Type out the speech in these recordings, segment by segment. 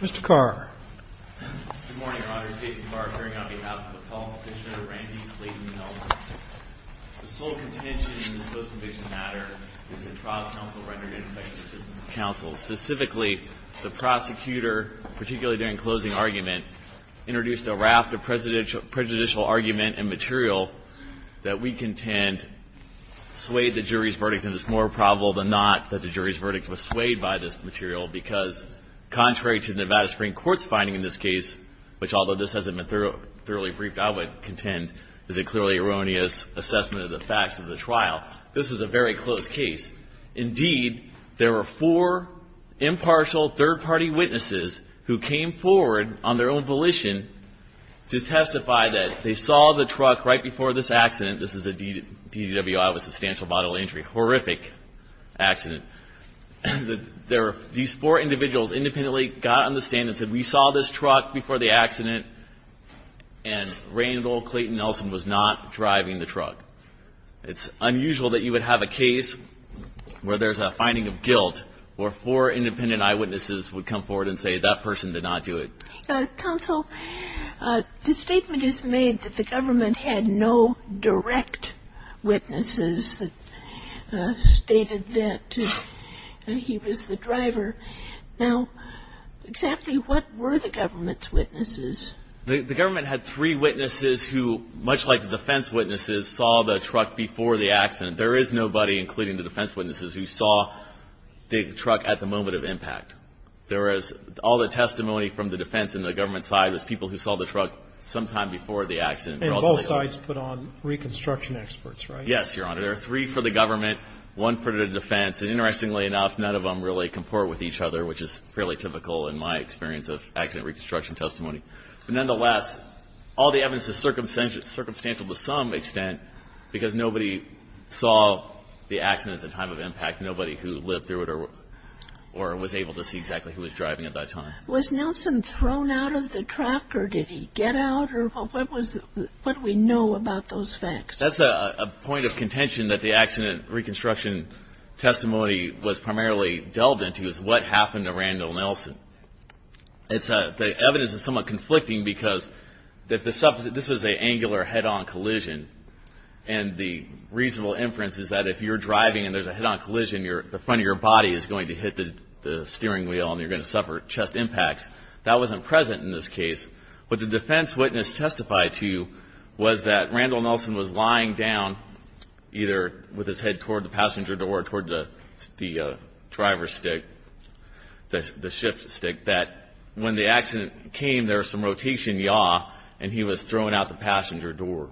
Mr. Carr. Good morning, Your Honor. Jason Carr, appearing on behalf of the public. This is Randy Clayton Nelson. The sole contention in this post-conviction matter is that trial counsel rendered ineffective assistance to counsel. Specifically, the prosecutor, particularly during closing argument, introduced a raft of prejudicial argument and material that we contend swayed the jury's verdict. I think it's more probable than not that the jury's verdict was swayed by this material, because contrary to the Nevada Supreme Court's finding in this case, which although this hasn't been thoroughly briefed, I would contend, is a clearly erroneous assessment of the facts of the trial, this is a very close case. Indeed, there were four impartial third-party witnesses who came forward on their own volition to testify that they saw the truck right before this accident. This is a DWI with substantial bodily injury, horrific accident. These four individuals independently got on the stand and said, we saw this truck before the accident, and Randall Clayton Nelson was not driving the truck. It's unusual that you would have a case where there's a finding of guilt where four independent eyewitnesses would come forward and say that person did not do it. Counsel, the statement is made that the government had no direct witnesses that stated that he was the driver. Now, exactly what were the government's witnesses? The government had three witnesses who, much like the defense witnesses, saw the truck before the accident. There is nobody, including the defense witnesses, who saw the truck at the moment of impact. There is all the testimony from the defense and the government side was people who saw the truck sometime before the accident. And both sides put on reconstruction experts, right? Yes, Your Honor. There are three for the government, one for the defense. And interestingly enough, none of them really comport with each other, which is fairly typical in my experience of accident reconstruction testimony. But nonetheless, all the evidence is circumstantial to some extent because nobody saw the accident at the time of impact, nobody who lived through it or was able to see exactly who was driving at that time. Was Nelson thrown out of the truck or did he get out? What do we know about those facts? That's a point of contention that the accident reconstruction testimony was primarily delved into is what happened to Randall Nelson. The evidence is somewhat conflicting because this was an angular head-on collision. And the reasonable inference is that if you're driving and there's a head-on collision, the front of your body is going to hit the steering wheel and you're going to suffer chest impacts. That wasn't present in this case. What the defense witness testified to was that Randall Nelson was lying down, either with his head toward the passenger door or toward the driver's stick, the shift stick, that when the accident came, there was some rotation, yaw, and he was thrown out the passenger door,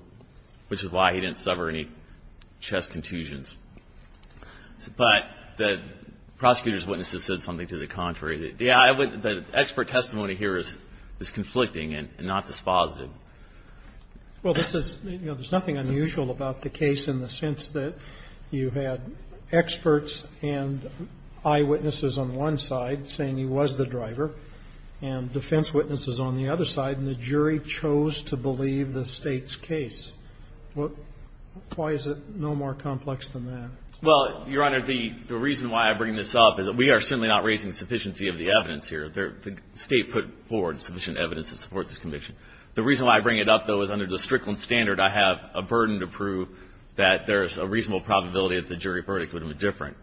which is why he didn't suffer any chest contusions. But the prosecutor's witness has said something to the contrary. The expert testimony here is conflicting and not dispositive. Well, this is, you know, there's nothing unusual about the case in the sense that you had experts and eyewitnesses on one side saying he was the driver and defense witnesses on the other side and the jury chose to believe the State's case. Why is it no more complex than that? Well, Your Honor, the reason why I bring this up is that we are certainly not raising sufficiency of the evidence here. The State put forward sufficient evidence to support this conviction. The reason why I bring it up, though, is under the Strickland standard, I have a burden to prove that there's a reasonable probability that the jury verdict would have been different.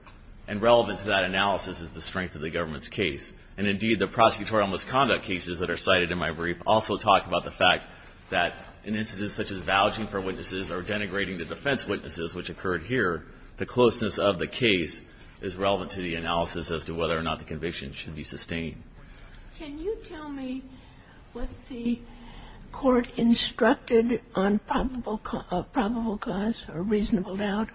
And relevant to that analysis is the strength of the government's case. And indeed, the prosecutorial misconduct cases that are cited in my brief also talk about the fact that in instances such as vouching for witnesses or denigrating the defense witnesses, which occurred here, the closeness of the case is relevant to the analysis as to whether or not the conviction should be sustained. Can you tell me what the Court instructed on probable cause or reasonable doubt?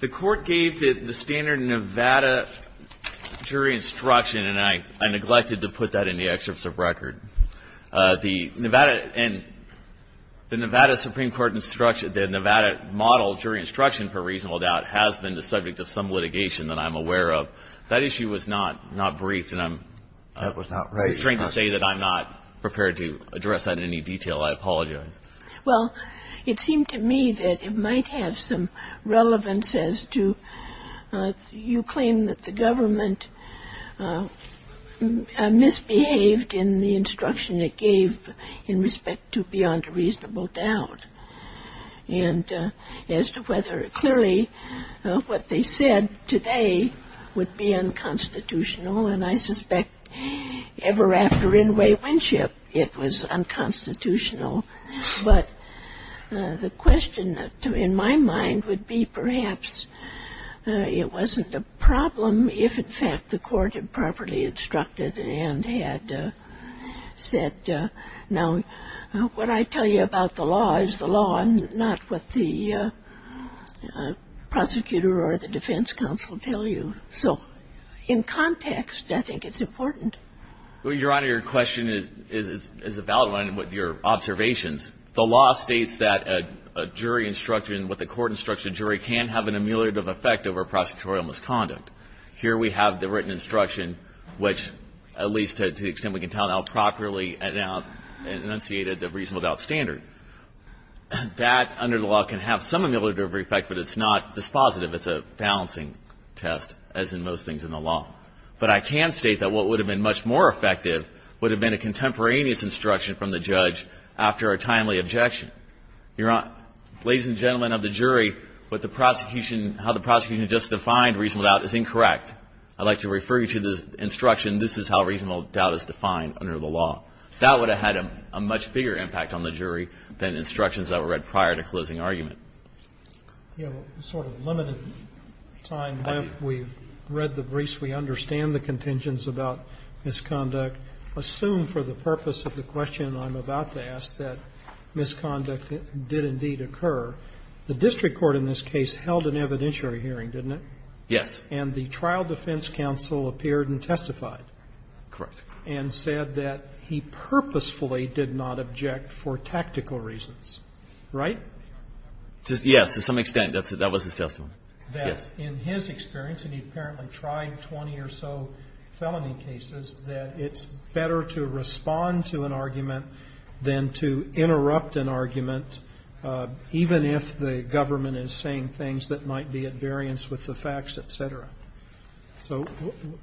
The Court gave the standard Nevada jury instruction, and I neglected to put that in the excerpts of record. The Nevada and the Nevada Supreme Court instruction, the Nevada model jury instruction for reasonable doubt has been the subject of some litigation that I'm aware of. So that issue was not briefed, and I'm strained to say that I'm not prepared to address that in any detail. I apologize. Well, it seemed to me that it might have some relevance as to you claim that the government misbehaved in the instruction it gave in respect to beyond reasonable doubt. And as to whether clearly what they said today would be unconstitutional, and I suspect ever after Inouye Winship it was unconstitutional. But the question in my mind would be perhaps it wasn't a problem if, in fact, the Court had properly instructed and had said, now, what I tell you about the law is not what the prosecutor or the defense counsel tell you. So in context, I think it's important. Well, Your Honor, your question is a valid one with your observations. The law states that a jury instruction with a court-instructed jury can have an ameliorative effect over prosecutorial misconduct. Here we have the written instruction which, at least to the extent we can tell now, properly enunciated the reasonable doubt standard. That, under the law, can have some ameliorative effect, but it's not dispositive. It's a balancing test, as in most things in the law. But I can state that what would have been much more effective would have been a contemporaneous instruction from the judge after a timely objection. Your Honor, ladies and gentlemen of the jury, what the prosecution, how the prosecution just defined reasonable doubt is incorrect. I'd like to refer you to the instruction, this is how reasonable doubt is defined under the law. That would have had a much bigger impact on the jury than instructions that were read prior to closing argument. You have a sort of limited time left. We've read the briefs. We understand the contingents about misconduct. Assume for the purpose of the question I'm about to ask that misconduct did indeed occur. The district court in this case held an evidentiary hearing, didn't it? Yes. And the trial defense counsel appeared and testified. Correct. And said that he purposefully did not object for tactical reasons. Right? Yes. To some extent. That was his testimony. Yes. In his experience, and he apparently tried 20 or so felony cases, that it's better to respond to an argument than to interrupt an argument, even if the government is saying things that might be at variance with the facts, et cetera. So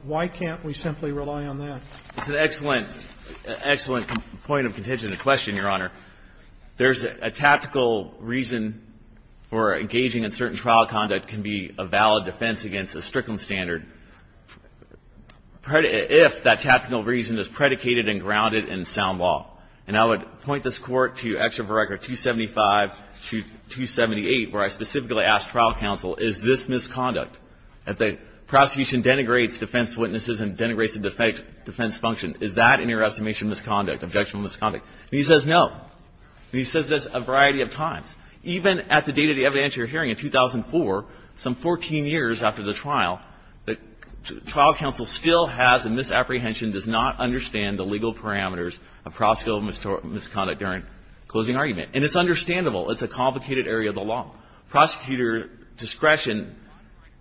why can't we simply rely on that? It's an excellent, excellent point of contention to question, Your Honor. There's a tactical reason for engaging in certain trial conduct can be a valid defense against a Strickland standard if that tactical reason is predicated and grounded in sound law. And I would point this Court to Excerpt of Record 275 to 278, where I specifically asked trial counsel, is this misconduct? If the prosecution denigrates defense witnesses and denigrates the defense function, is that, in your estimation, misconduct, objectionable misconduct? And he says no. And he says this a variety of times. Even at the date of the evidentiary hearing in 2004, some 14 years after the trial, the trial counsel still has a misapprehension, does not understand the legal parameters of prosecutorial misconduct during closing argument. And it's understandable. It's a complicated area of the law. Prosecutor discretion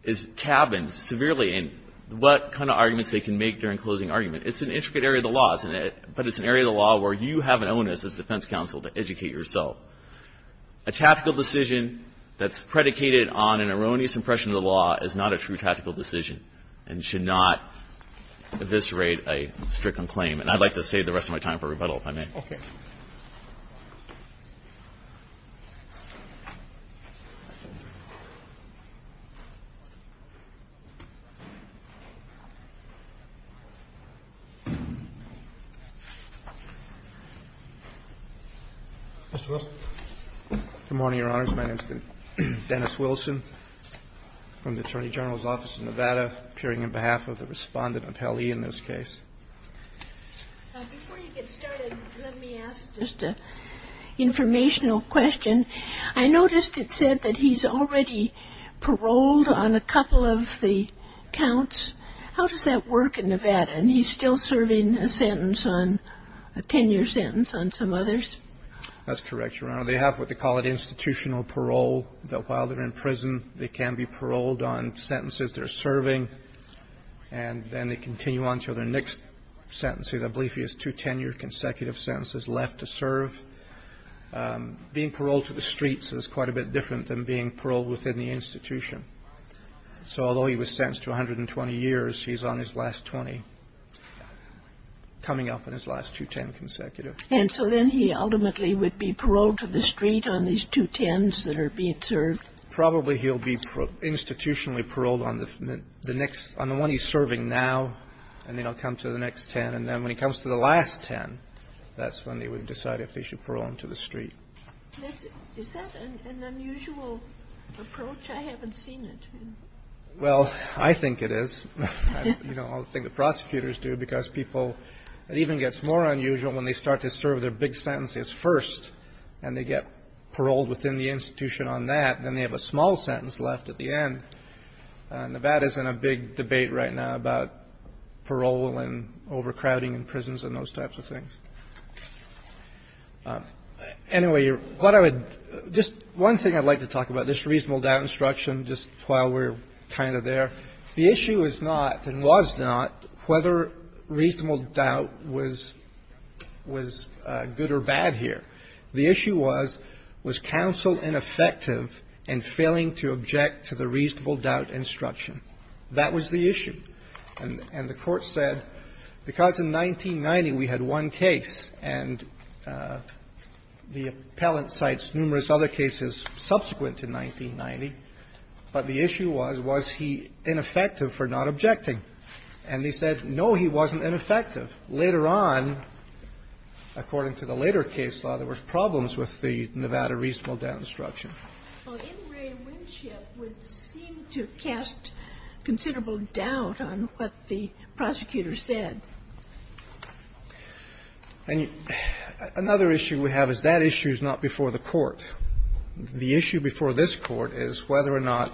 is cabined severely in what kind of arguments they can make during closing argument. It's an intricate area of the law, but it's an area of the law where you have an onus as defense counsel to educate yourself. A tactical decision that's predicated on an erroneous impression of the law is not a true tactical decision and should not eviscerate a Strickland claim. And I'd like to save the rest of my time for rebuttal, if I may. Mr. Wilson. Good morning, Your Honors. My name is Dennis Wilson from the Attorney General's Office in Nevada, appearing on behalf of the Respondent Appellee in this case. Before you get started, let me ask just an informational question. I noticed it said that he's already paroled on a couple of the counts. How does that work in Nevada? And he's still serving a sentence on a 10-year sentence on some others? That's correct, Your Honor. They have what they call an institutional parole, that while they're in prison, they can be paroled on sentences they're serving. And then they continue on to their next sentence. I believe he has two 10-year consecutive sentences left to serve. Being paroled to the streets is quite a bit different than being paroled within the institution. So although he was sentenced to 120 years, he's on his last 20, coming up on his last two 10 consecutive. And so then he ultimately would be paroled to the street on these two 10s that are being served? Probably he'll be institutionally paroled on the next, on the one he's serving now, and then he'll come to the next 10. And then when he comes to the last 10, that's when they would decide if they should parole him to the street. Is that an unusual approach? I haven't seen it. Well, I think it is. You know, I think the prosecutors do, because people, it even gets more unusual when they start to serve their big sentences first, and they get paroled within the institution on that, and then they have a small sentence left at the end. Nevada's in a big debate right now about parole and overcrowding in prisons and those types of things. Anyway, what I would just one thing I'd like to talk about, this reasonable doubt instruction, just while we're kind of there. The issue is not, and was not, whether reasonable doubt was good or bad here. The issue was, was counsel ineffective in failing to object to the reasonable doubt instruction? That was the issue. And the Court said, because in 1990 we had one case, and the appellant cites numerous other cases subsequent to 1990, but the issue was, was he ineffective for not objecting? And they said, no, he wasn't ineffective. Later on, according to the later case law, there were problems with the Nevada reasonable doubt instruction. Ginsburg. Well, In re Winship would seem to cast considerable doubt on what the prosecutor said. Verrilli, Jr. And another issue we have is that issue is not before the Court. The issue before this Court is whether or not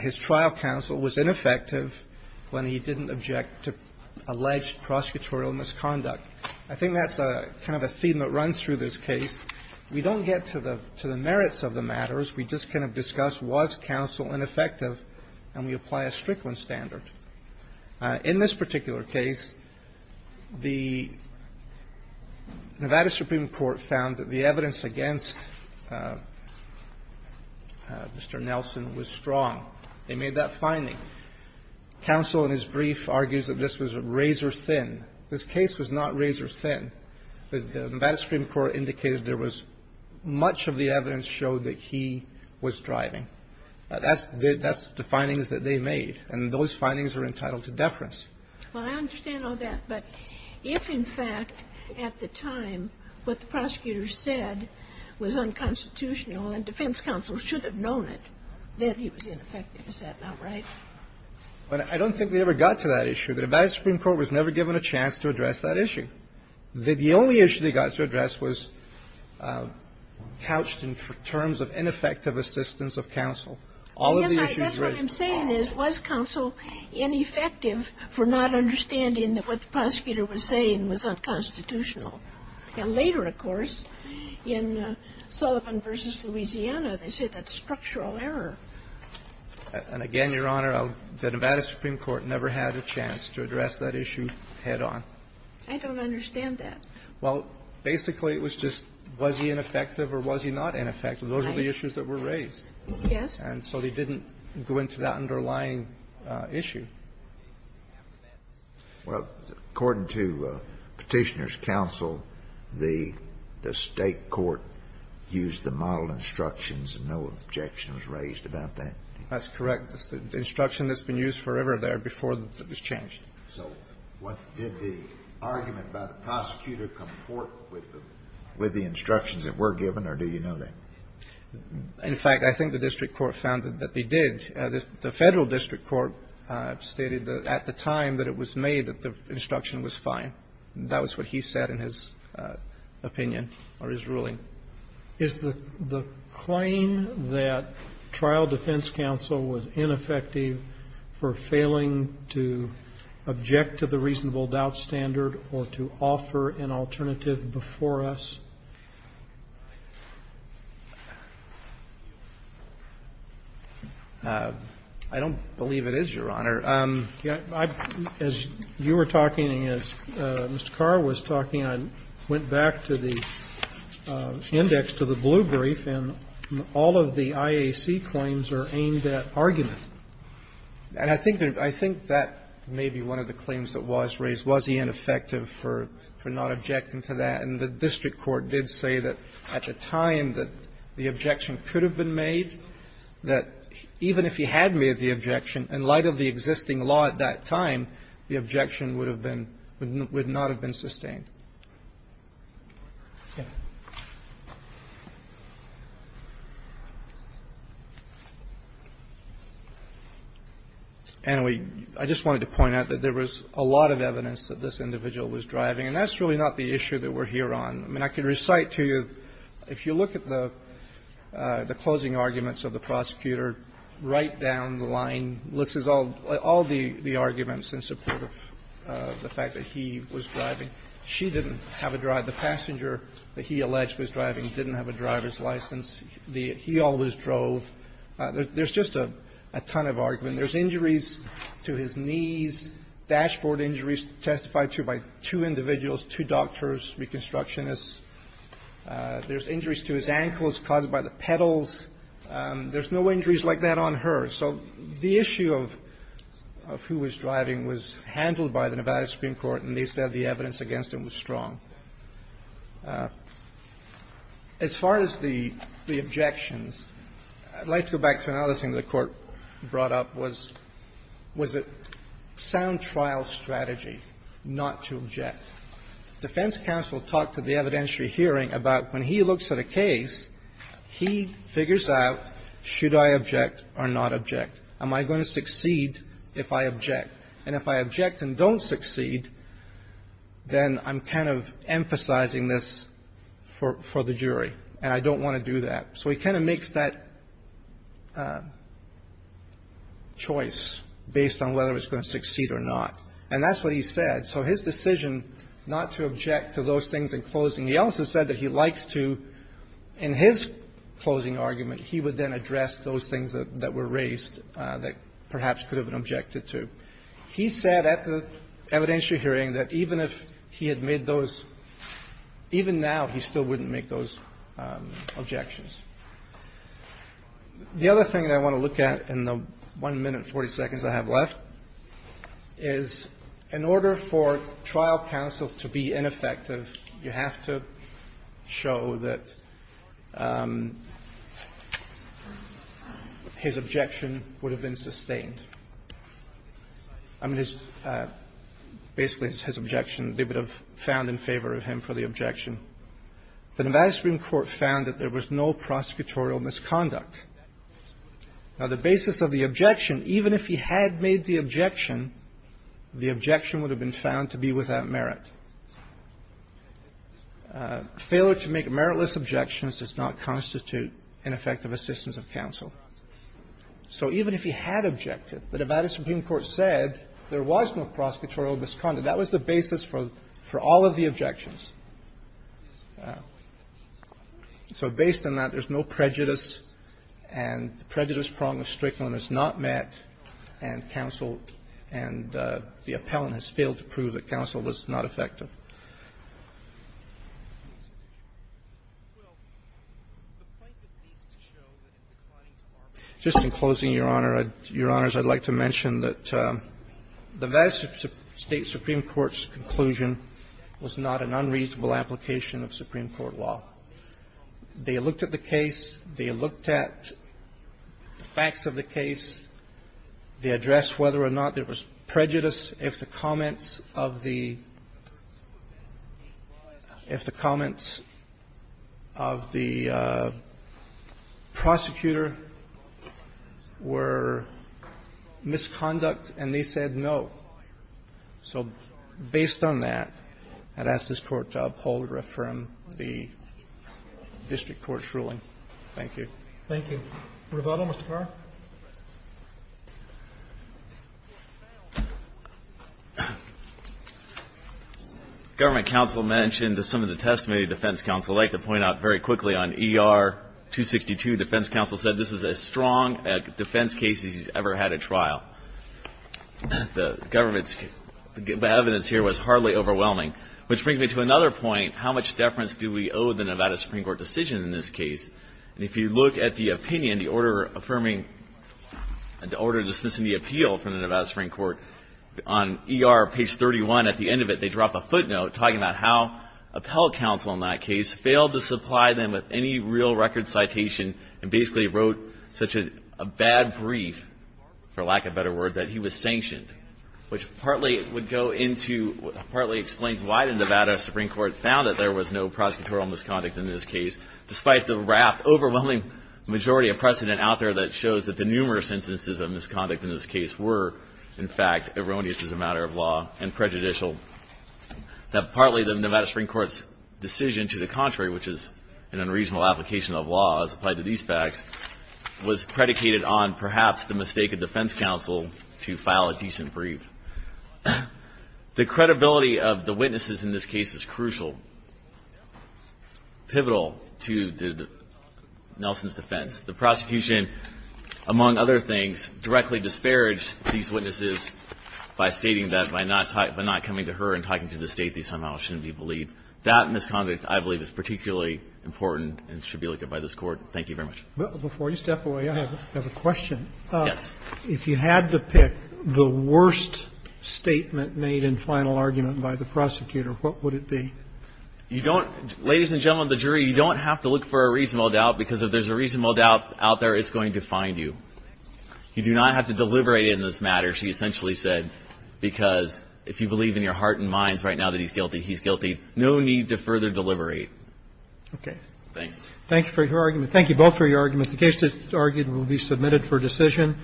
his trial counsel was ineffective when he didn't object to alleged prosecutorial misconduct. I think that's kind of a theme that runs through this case. We don't get to the merits of the matters. We just kind of discuss, was counsel ineffective, and we apply a Strickland standard. In this particular case, the Nevada Supreme Court found that the evidence against Mr. Nelson was strong. They made that finding. Counsel, in his brief, argues that this was razor thin. This case was not razor thin. The Nevada Supreme Court indicated there was much of the evidence showed that he was driving. That's the findings that they made, and those findings are entitled to deference. Well, I understand all that, but if, in fact, at the time, what the prosecutor said was unconstitutional and defense counsel should have known it, then he was ineffective. Is that not right? Well, I don't think they ever got to that issue. The Nevada Supreme Court was never given a chance to address that issue. The only issue they got to address was couched in terms of ineffective assistance of counsel. All of the issues raised by counsel. Well, that's what I'm saying is, was counsel ineffective for not understanding that what the prosecutor was saying was unconstitutional? And later, of course, in Sullivan v. Louisiana, they said that's structural error. And again, Your Honor, the Nevada Supreme Court never had a chance to address that issue head on. I don't understand that. Well, basically, it was just, was he ineffective or was he not ineffective? Those were the issues that were raised. Yes. And so they didn't go into that underlying issue. Well, according to Petitioner's counsel, the State court used the model instructions and no objection was raised about that. That's correct. The instruction that's been used forever there before it was changed. So what did the argument by the prosecutor comport with the instructions that were given, or do you know that? In fact, I think the district court found that they did. The Federal district court stated that at the time that it was made that the instruction was fine. That was what he said in his opinion or his ruling. Is the claim that trial defense counsel was ineffective for failing to object to the reasonable doubt standard or to offer an alternative before us? I don't believe it is, Your Honor. As you were talking and as Mr. Carr was talking, I went back to the index to the blue brief and all of the IAC claims are aimed at argument. And I think that may be one of the claims that was raised. Was he ineffective for not objecting to that? And the district court did say that at the time that the objection could have been made, that even if he had made the objection, in light of the existing law at that time, the objection would have been – would not have been sustained. Anyway, I just wanted to point out that there was a lot of evidence that this individual was driving, and that's really not the issue that we're here on. I mean, I can recite to you, if you look at the closing arguments of the prosecutor, right down the line, lists all the arguments in support of the fact that he was driving. She didn't have a drive. The passenger that he alleged was driving didn't have a driver's license. He always drove. There's just a ton of argument. There's injuries to his knees, dashboard injuries testified to by two individuals, two doctors, reconstructionists. There's injuries to his ankles caused by the pedals. There's no injuries like that on her. So the issue of who was driving was handled by the Nevada Supreme Court, and they said the evidence against him was strong. As far as the objections, I'd like to go back to another thing the Court brought up was, was it sound trial strategy not to object. Defense counsel talked at the evidentiary hearing about when he looks at a case, he figures out, should I object or not object? Am I going to succeed if I object? And if I object and don't succeed, then I'm kind of emphasizing this for the jury, and I don't want to do that. So he kind of makes that choice based on whether it's going to succeed or not. And that's what he said. So his decision not to object to those things in closing, he also said that he likes to, in his closing argument, he would then address those things that were raised that perhaps could have been objected to. He said at the evidentiary hearing that even if he had made those, even now he still wouldn't make those objections. The other thing that I want to look at in the 1 minute 40 seconds I have left is in order for trial counsel to be ineffective, you have to show that his objection would have been sustained. I mean, his – basically his objection, they would have found in favor of him for the objection. The Nevada Supreme Court found that there was no prosecutorial misconduct. Now, the basis of the objection, even if he had made the objection, the objection would have been found to be without merit. Failure to make meritless objections does not constitute ineffective assistance of counsel. So even if he had objected, the Nevada Supreme Court said there was no prosecutorial misconduct. That was the basis for all of the objections. So based on that, there's no prejudice, and the prejudice prong of Strickland is not met, and counsel and the appellant has failed to prove that counsel was not effective. Just in closing, Your Honor, Your Honors, I'd like to mention that the Nevada State Supreme Court's conclusion was not an unreasonable application of Supreme Court law. They looked at the case, they looked at the facts of the case, they addressed whether or not there was prejudice if the comments of the prosecutor were misconduct, and they said no. So based on that, I'd ask this Court to uphold or affirm the district court's ruling. Thank you. Thank you. Rovato, Mr. Carr. Government counsel mentioned some of the testimony of defense counsel. I'd like to point out very quickly on ER-262, defense counsel said this is as strong a defense case as he's ever had at trial. The evidence here was hardly overwhelming, which brings me to another point. How much deference do we owe the Nevada Supreme Court decision in this case? And if you look at the opinion, the order affirming, the order dismissing the appeal from the Nevada Supreme Court, on ER page 31, at the end of it, they drop a footnote talking about how appellate counsel in that case failed to supply them with any real record citation and basically wrote such a bad brief, for lack of a better word, that he was sanctioned, which partly would go into, partly explains why the Nevada Supreme Court found that there was no prosecutorial misconduct in this case, despite the raft, overwhelming majority of precedent out there that shows that the numerous instances of misconduct in this case were, in fact, erroneous as a matter of law and prejudicial. That partly the Nevada Supreme Court's decision to the contrary, which is an unreasonable application of law as applied to these facts, was predicated on perhaps the mistake of defense counsel to file a decent brief. The credibility of the witnesses in this case was crucial, pivotal to Nelson's defense. The prosecution, among other things, directly disparaged these witnesses by stating that by not coming to her and talking to the state, they somehow shouldn't be believed. That misconduct, I believe, is particularly important and should be looked at by this Court. Thank you very much. Roberts. Before you step away, I have a question. Yes. If you had to pick the worst statement made in final argument by the prosecutor, what would it be? You don't – ladies and gentlemen of the jury, you don't have to look for a reasonable doubt, because if there's a reasonable doubt out there, it's going to find you. You do not have to deliberate in this matter, she essentially said, because if you believe in your heart and minds right now that he's guilty, he's guilty. No need to further deliberate. Okay. Thanks. Thank you for your argument. Thank you both for your arguments. The case that's argued will be submitted for decision.